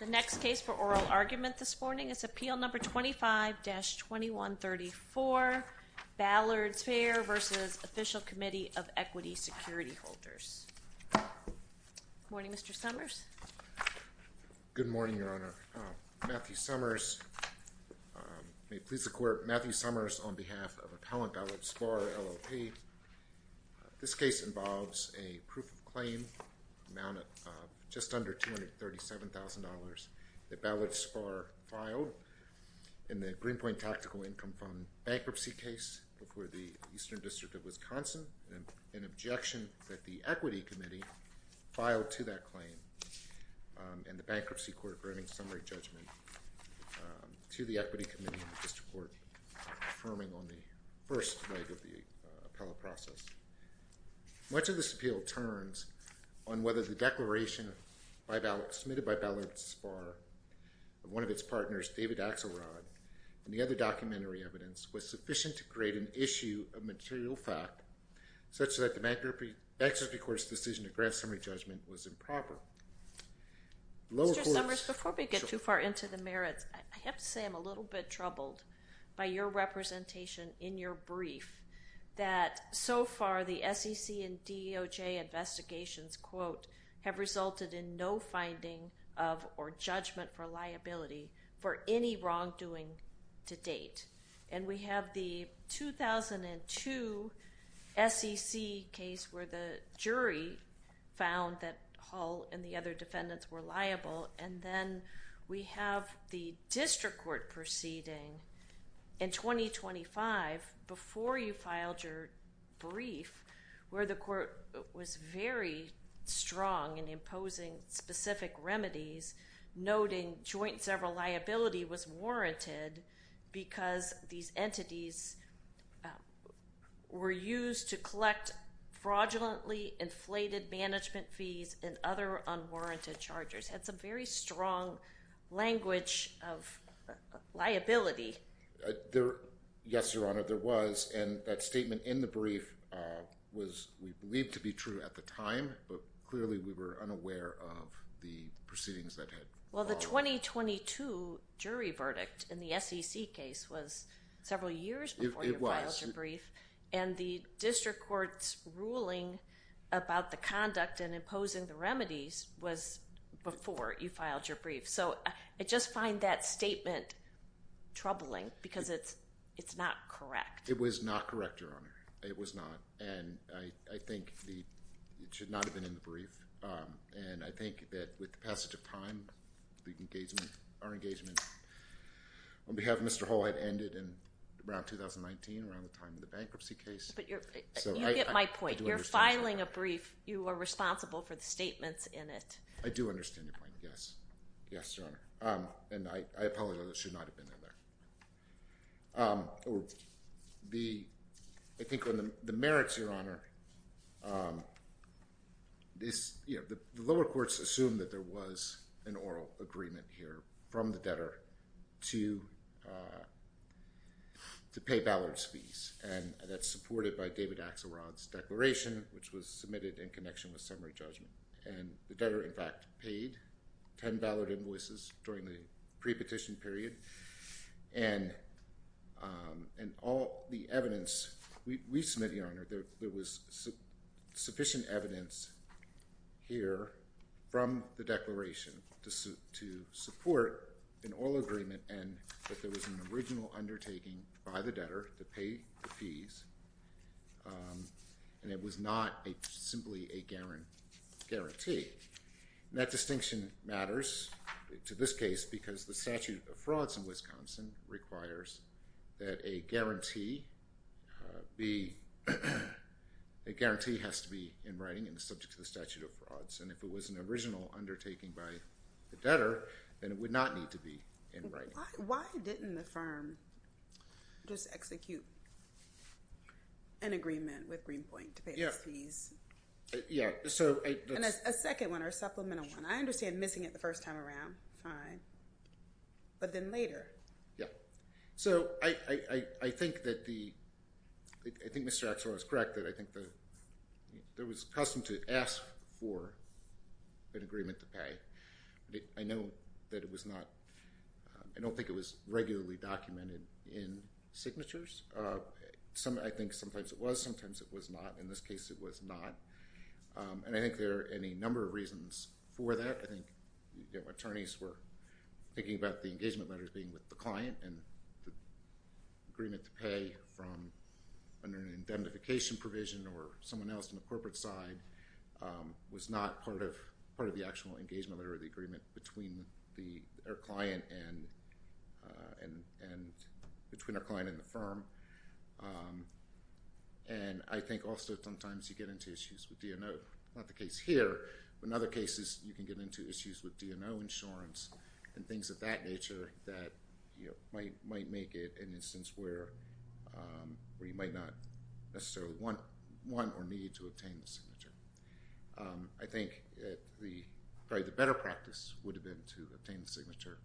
The next case for oral argument this morning is Appeal No. 25-2134, Ballard Spahr v. Official Committee of Equity Security Holders. Good morning, Mr. Summers. Good morning, Your Honor. Matthew Summers. May it please the Court, Matthew Summers on behalf of Appellant Ballard Spahr LLP. This case involves a proof of claim amount of just under $237,000 that Ballard Spahr filed in the Greenpoint Tactical Income Fund bankruptcy case before the Eastern District of Wisconsin and an objection that the Equity Committee filed to that claim and the Bankruptcy Court granting summary judgment to the Equity Committee and the District Court affirming on the first leg of the appellate process. Much of this appeal turns on whether the declaration by Ballard, submitted by Ballard Spahr, one of its partners, David Axelrod, and the other documentary evidence was sufficient to create an issue of material fact such that the Bankruptcy Court's decision to grant summary judgment was improper. Mr. Summers, before we get too far into the merits, I have to say I'm a little bit troubled by your representation in your brief that so far the SEC and DOJ investigations, quote, have resulted in no finding of or judgment for liability for any wrongdoing to date. And we have the 2002 SEC case where the jury found that Hull and the other defendants were liable. In 2025, before you filed your brief, where the court was very strong in imposing specific remedies, noting joint several liability was warranted because these entities were used to collect fraudulently inflated management fees and other unwarranted charges, had some very strong language of liability. Yes, Your Honor, there was. And that statement in the brief was, we believe, to be true at the time, but clearly we were unaware of the proceedings that had followed. Well, the 2022 jury verdict in the SEC case was several years before you filed your brief. And the district court's ruling about the conduct and imposing the remedies was before you filed your brief. So I just find that statement troubling because it's not correct. It was not correct, Your Honor. It was not. And I think it should not have been in the brief. And I think that with the passage of time, our engagement on behalf of Mr. Hull had ended around 2019, around the time of the bankruptcy case. You get my point. You're filing a brief. You are responsible for the statements in it. I do understand your point, yes. Yes, Your Honor. And I apologize. It should not have been in there. I think on the merits, Your Honor, the lower courts assumed that there was an oral agreement here from the debtor to pay Ballard's fees. And that's supported by David Axelrod's declaration, which was submitted in connection with summary judgment. And the debtor, in fact, paid 10 Ballard invoices during the pre-petition period. And all the evidence we submitted, Your Honor, there was sufficient evidence here from the declaration to support an oral agreement and that there was an original undertaking by the debtor to pay the fees. And it was not simply a guarantee. And that distinction matters to this case because the statute of frauds in Wisconsin requires that a guarantee has to be in writing and subject to the statute of frauds. And if it was an original undertaking by the debtor, then it would not need to be in writing. Why didn't the firm just execute an agreement with Greenpoint to pay the fees? Yeah, so... And a second one or a supplemental one. I understand missing it the first time around. Fine. But then later. Yeah. So I think that the... I think Mr. Axelrod is correct that I think there was custom to ask for an agreement to pay. I know that it was not... I don't think it was regularly documented in signatures. I think sometimes it was, sometimes it was not. In this case, it was not. And I think there are any number of reasons for that. I think attorneys were thinking about the engagement letters being with the client and the agreement to pay from an indemnification provision or someone else on the corporate side was not part of the actual engagement letter or the agreement between our client and between our client and the firm. And I think also sometimes you get into issues with DNO. Not the case here, but in other cases you can get into issues with DNO insurance and things of that nature that might make it an instance where you might not necessarily want or need to obtain the signature. I think probably the better practice would have been to obtain the signature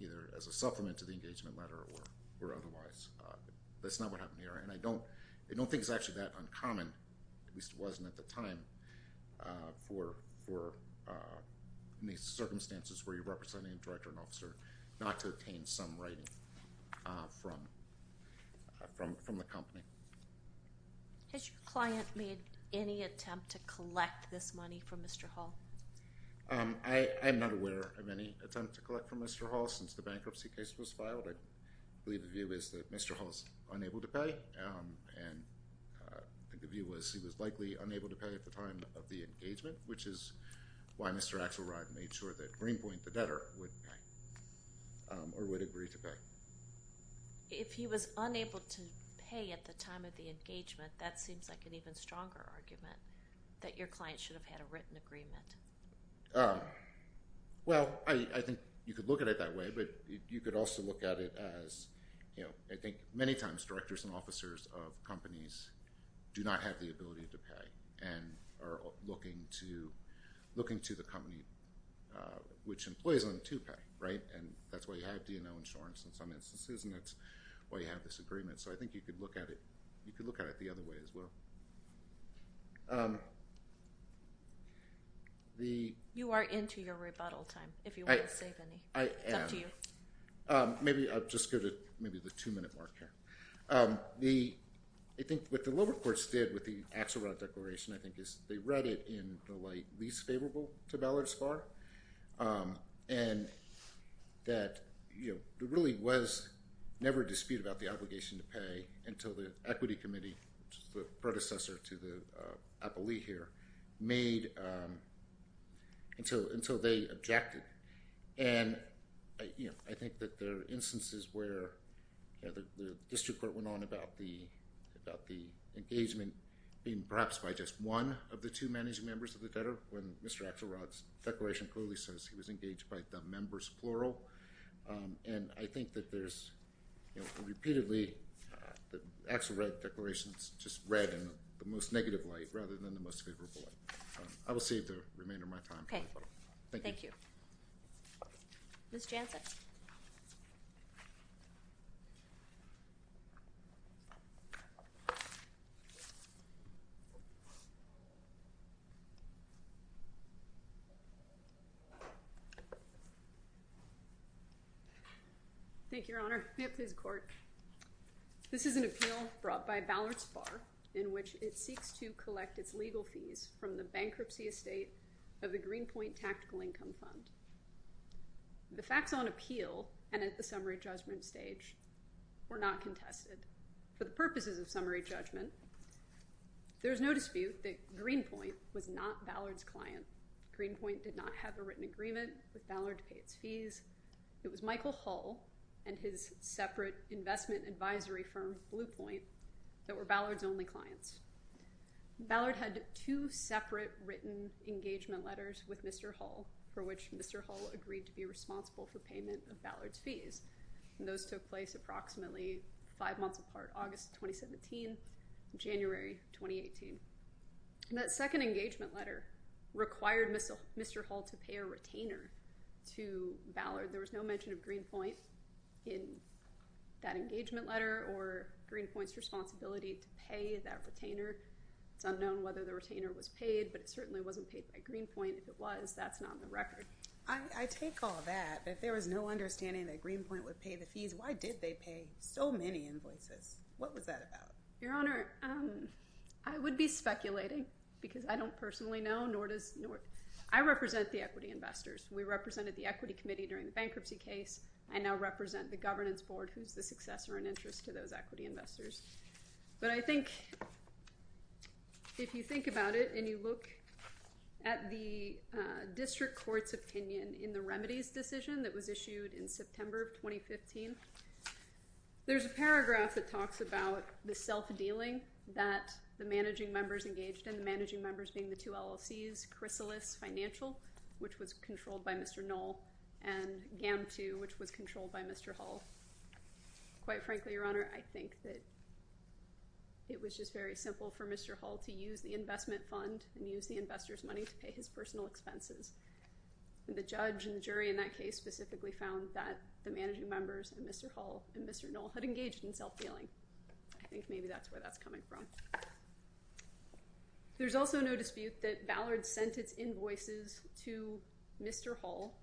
either as a supplement to the engagement letter or otherwise. That's not what happened here. And I don't think it's actually that uncommon, at least it wasn't at the time, for these circumstances where you're representing a director and officer not to obtain some writing from the company. Has your client made any attempt to collect this money from Mr. Hall? I'm not aware of any attempt to collect from Mr. Hall since the bankruptcy case was filed. I believe the view is that Mr. Hall is unable to pay. And the view was he was likely unable to pay at the time of the engagement, which is why Mr. Axelrod made sure that Greenpoint, the debtor, would pay or would agree to pay. If he was unable to pay at the time of the engagement, that seems like an even stronger argument that your client should have had a written agreement. Well, I think you could look at it that way, but you could also look at it as, I think many times directors and officers of companies do not have the ability to pay and are looking to the company which employs them to pay. And that's why you have D&O Insurance in some instances and that's why you have this agreement. So I think you could look at it the other way as well. You are into your rebuttal time, if you want to save any. I am. It's up to you. Maybe I'll just go to maybe the two-minute mark here. I think what the lower courts did with the Axelrod Declaration, I think, is they read it in the light least favorable to Ballard's bar and that there really was never a dispute about the obligation to pay until the equity committee, the predecessor to the appellee here, made until they objected. And I think that there are instances where the district court went on about the engagement being perhaps by just one of the two managing members of the debtor when Mr. Axelrod's declaration clearly says he was engaged by the members plural. And I think that there's repeatedly the Axelrod Declaration is just read in the most negative light rather than the most favorable light. I will save the remainder of my time. Thank you. Thank you. Ms. Jansen. Thank you, Your Honor. May it please the court. This is an appeal brought by Ballard's bar in which it seeks to collect its legal fees from the bankruptcy estate of the Greenpoint Tactical Income Fund. The facts on appeal and at the summary judgment stage were not contested. For the purposes of summary judgment, there is no dispute that Greenpoint was not Ballard's client. Greenpoint did not have a written agreement with Ballard to pay its fees. It was Michael Hull and his separate investment advisory firm, Bluepoint, that were Ballard's only clients. Ballard had two separate written engagement letters with Mr. Hull for which Mr. Hull agreed to be responsible for payment of Ballard's fees. And those took place approximately five months apart, August 2017, January 2018. That second engagement letter required Mr. Hull to pay a retainer to Ballard. There was no mention of Greenpoint in that engagement letter or Greenpoint's responsibility to pay that retainer. It's unknown whether the retainer was paid, but it certainly wasn't paid by Greenpoint. If it was, that's not on the record. I take all that, but if there was no understanding that Greenpoint would pay the fees, why did they pay so many invoices? What was that about? Your Honor, I would be speculating because I don't personally know. I represent the equity investors. We represented the Equity Committee during the bankruptcy case. I now represent the Governance Board, who's the successor in interest to those equity investors. But I think if you think about it and you look at the district court's opinion in the remedies decision that was issued in September of 2015, there's a paragraph that talks about the self-dealing that the managing members engaged in, the managing members being the two LLCs, Chrysalis Financial, which was controlled by Mr. Knoll, and GAM II, which was controlled by Mr. Hull. Quite frankly, Your Honor, I think that it was just very simple for Mr. Hull to use the investment fund and use the investor's money to pay his personal expenses. The judge and jury in that case specifically found that the managing members and Mr. Hull and Mr. Knoll had engaged in self-dealing. I think maybe that's where that's coming from. There's also no dispute that Ballard sent its invoices to Mr. Hull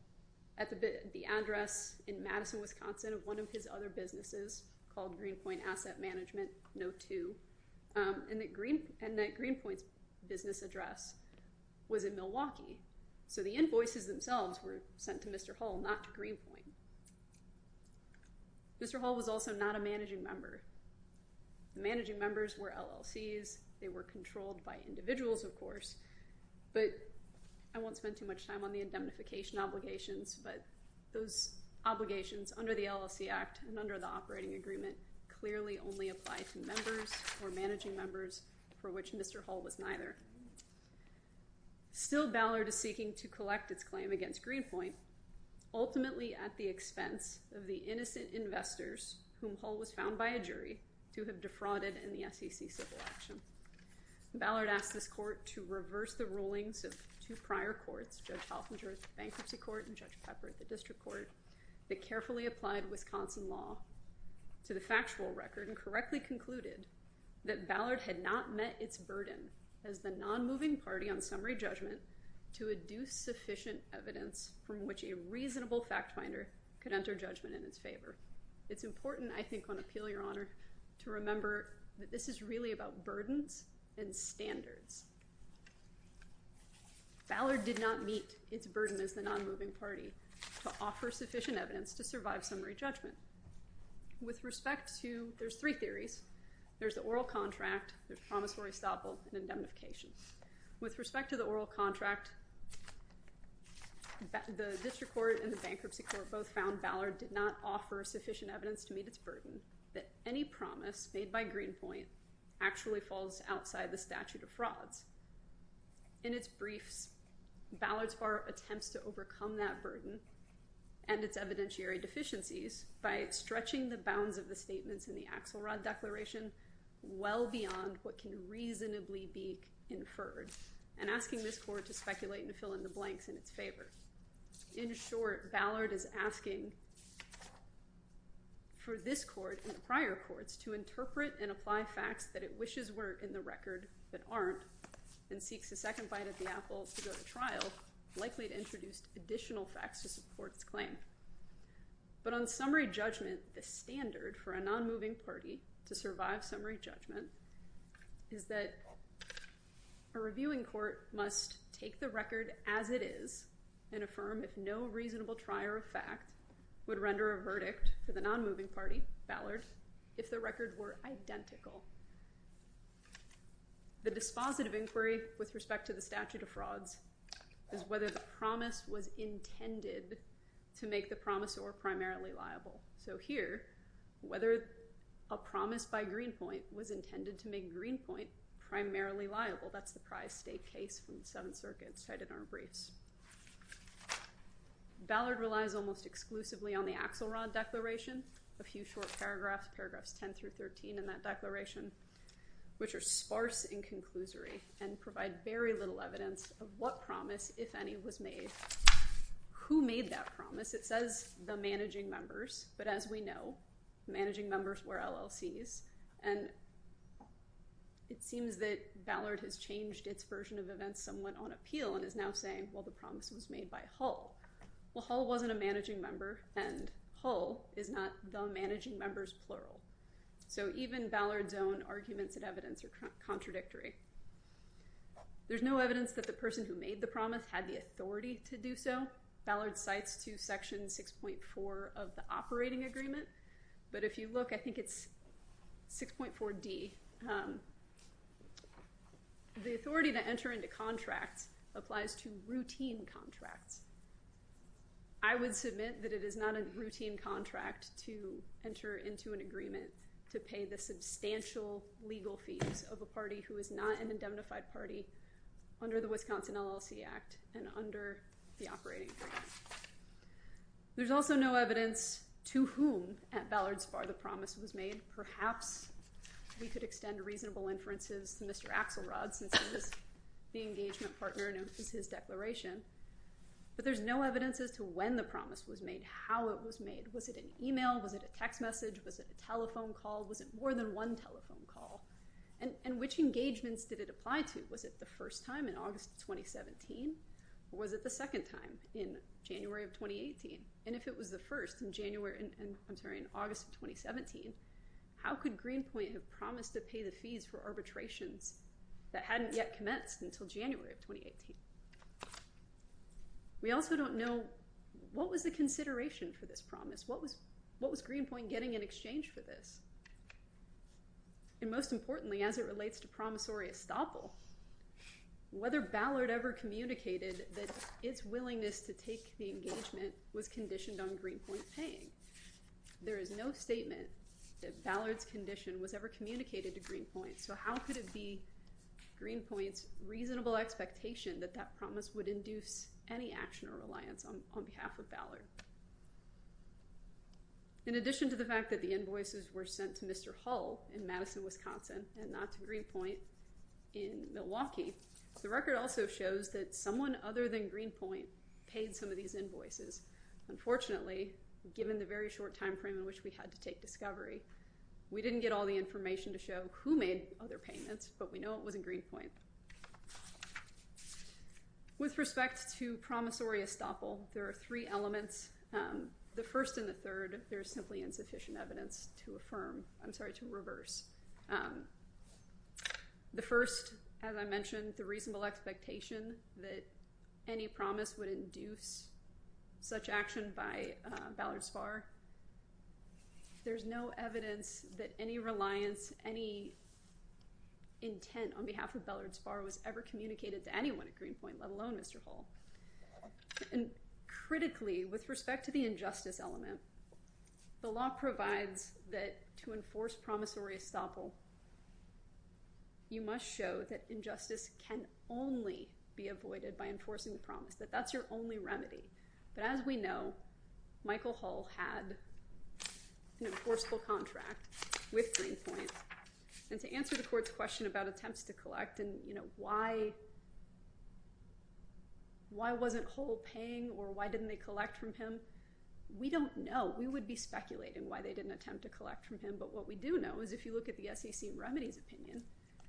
at the address in Madison, Wisconsin, of one of his other businesses called Greenpoint Asset Management No. 2, and that Greenpoint's business address was in Milwaukee. So the invoices themselves were sent to Mr. Hull, not to Greenpoint. Mr. Hull was also not a managing member. The managing members were LLCs. They were controlled by individuals, of course, but I won't spend too much time on the indemnification obligations, but those obligations under the LLC Act and under the operating agreement clearly only apply to members or managing members for which Mr. Hull was neither. Still, Ballard is seeking to collect its claim against Greenpoint, ultimately at the expense of the innocent investors whom Hull was found by a jury to have defrauded in the SEC civil action. Ballard asked this court to reverse the rulings of two prior courts, Judge Halfinger at the bankruptcy court and Judge Pepper at the district court, that carefully applied Wisconsin law to the factual record and correctly concluded that Ballard had not met its burden as the non-moving party on summary judgment to adduce sufficient evidence from which a reasonable fact finder could enter judgment in its favor. It's important, I think, on appeal, Your Honor, to remember that this is really about burdens and standards. Ballard did not meet its burden as the non-moving party to offer sufficient evidence to survive summary judgment. With respect to—there's three theories. There's the oral contract, there's promissory stoppel, and indemnification. With respect to the oral contract, the district court and the bankruptcy court both found Ballard did not offer sufficient evidence to meet its burden that any promise made by Greenpoint actually falls outside the statute of frauds. In its briefs, Ballard's bar attempts to overcome that burden and its evidentiary deficiencies by stretching the bounds of the statements in the Axelrod Declaration well beyond what can reasonably be inferred and asking this court to speculate and fill in the blanks in its favor. In short, Ballard is asking for this court and prior courts to interpret and apply facts that it wishes were in the record but aren't and seeks a second bite at the apple to go to trial, likely to introduce additional facts to support its claim. But on summary judgment, the standard for a non-moving party to survive summary judgment is that a reviewing court must take the record as it is and affirm if no reasonable trier of fact would render a verdict for the non-moving party, Ballard, if the records were identical. The dispositive inquiry with respect to the statute of frauds is whether the promise was intended to make the promise or primarily liable. So here, whether a promise by Greenpoint was intended to make Greenpoint primarily liable, that's the prized state case from the Seventh Circuit cited in our briefs. Ballard relies almost exclusively on the Axelrod Declaration, a few short paragraphs, paragraphs 10 through 13 in that declaration, which are sparse in conclusory and provide very little evidence of what promise, if any, was made. Who made that promise? It says the managing members, but as we know, managing members were LLCs, and it seems that Ballard has changed its version of events somewhat on appeal and is now saying, well, the promise was made by Hull. Well, Hull wasn't a managing member, and Hull is not the managing members plural. So even Ballard's own arguments and evidence are contradictory. There's no evidence that the person who made the promise had the authority to do so. Ballard cites to Section 6.4 of the operating agreement, but if you look, I think it's 6.4d. The authority to enter into contracts applies to routine contracts. I would submit that it is not a routine contract to enter into an agreement to pay the substantial legal fees of a party who is not an indemnified party under the Wisconsin LLC Act and under the operating agreement. There's also no evidence to whom at Ballard's bar the promise was made. Perhaps we could extend reasonable inferences to Mr. Axelrod since he's the engagement partner and it was his declaration, but there's no evidence as to when the promise was made, how it was made. Was it an email? Was it a text message? Was it a telephone call? Was it more than one telephone call? And which engagements did it apply to? Was it the first time in August 2017 or was it the second time in January of 2018? And if it was the first in August of 2017, how could Greenpoint have promised to pay the fees for arbitrations that hadn't yet commenced until January of 2018? We also don't know what was the consideration for this promise. What was Greenpoint getting in exchange for this? And most importantly, as it relates to promissory estoppel, whether Ballard ever communicated that its willingness to take the engagement was conditioned on Greenpoint paying. There is no statement that Ballard's condition was ever communicated to Greenpoint, so how could it be Greenpoint's reasonable expectation that that promise would induce any action or reliance on behalf of Ballard? In addition to the fact that the invoices were sent to Mr. Hull in Madison, Wisconsin and not to Greenpoint in Milwaukee, the record also shows that someone other than Greenpoint paid some of these invoices. Unfortunately, given the very short time frame in which we had to take discovery, we didn't get all the information to show who made other payments, but we know it wasn't Greenpoint. With respect to promissory estoppel, there are three elements. The first and the third, there is simply insufficient evidence to affirm, I'm sorry, to reverse. The first, as I mentioned, the reasonable expectation that any promise would induce such action by Ballard Spahr. There's no evidence that any reliance, any intent on behalf of Ballard Spahr was ever communicated to anyone at Greenpoint, let alone Mr. Hull. And critically, with respect to the injustice element, the law provides that to enforce promissory estoppel, you must show that injustice can only be avoided by enforcing the promise, that that's your only remedy. But as we know, Michael Hull had an enforceable contract with Greenpoint. And to answer the court's question about attempts to collect and why wasn't Hull paying or why didn't they collect from him, we don't know. We would be speculating why they didn't attempt to collect from him, but what we do know is if you look at the SEC remedies opinion,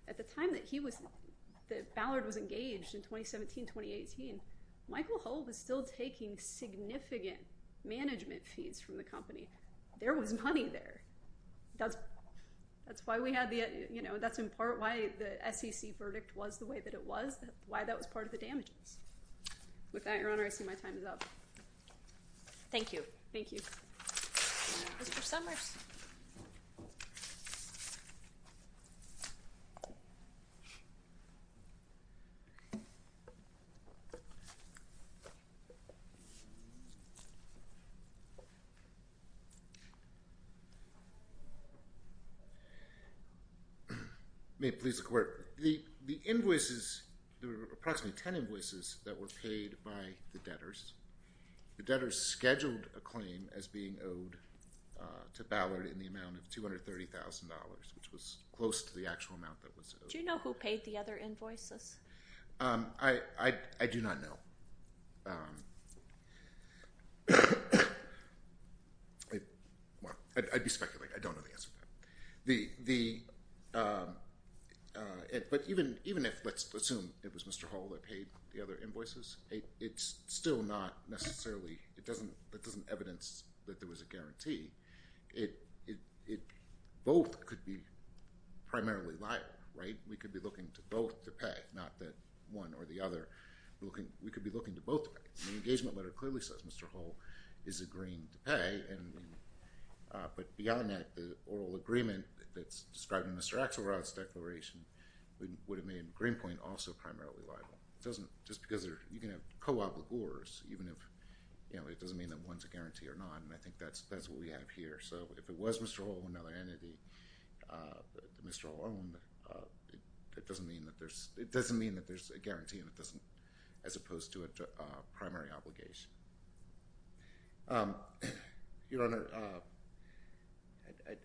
at the time that Ballard was engaged in 2017-2018, Michael Hull was still taking significant management fees from the company. There was money there. That's in part why the SEC verdict was the way that it was, why that was part of the damages. With that, Your Honor, I see my time is up. Thank you. Thank you. Mr. Summers. May it please the Court. The invoices, there were approximately ten invoices that were paid by the debtors. The debtors scheduled a claim as being owed to Ballard in the amount of $230,000, which was close to the actual amount that was owed. Do you know who paid the other invoices? I do not know. I'd be speculating. I don't know the answer to that. But even if, let's assume it was Mr. Hull that paid the other invoices, it's still not necessarily, it doesn't evidence that there was a guarantee. Both could be primarily liar, right? We could be looking to both to pay, not that one or the other. We could be looking to both to pay. The engagement letter clearly says Mr. Hull is agreeing to pay. But beyond that, the oral agreement that's described in Mr. Axelrod's declaration would have made Greenpoint also primarily liable. Just because you can have co-obligors, even if it doesn't mean that one's a guarantee or not, and I think that's what we have here. So if it was Mr. Hull or another entity that Mr. Hull owned, it doesn't mean that there's a guarantee, as opposed to a primary obligation. Your Honor,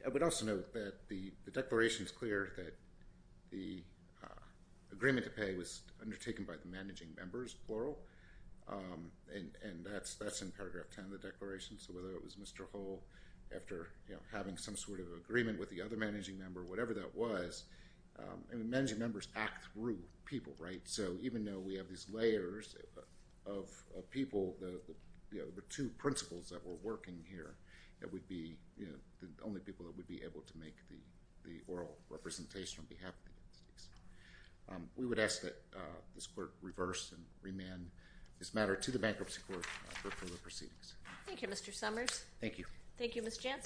I would also note that the declaration is clear that the agreement to pay was undertaken by the managing members, plural, and that's in paragraph 10 of the declaration. So whether it was Mr. Hull after having some sort of agreement with the other managing member, whatever that was, and the managing members act through people, right? So even though we have these layers of people, the two principles that were working here, that would be the only people that would be able to make the oral representation on behalf of the entities. We would ask that this Court reverse and remand this matter to the bankruptcy court for further proceedings. Thank you, Mr. Summers. Thank you. Thank you, Ms. Jansen.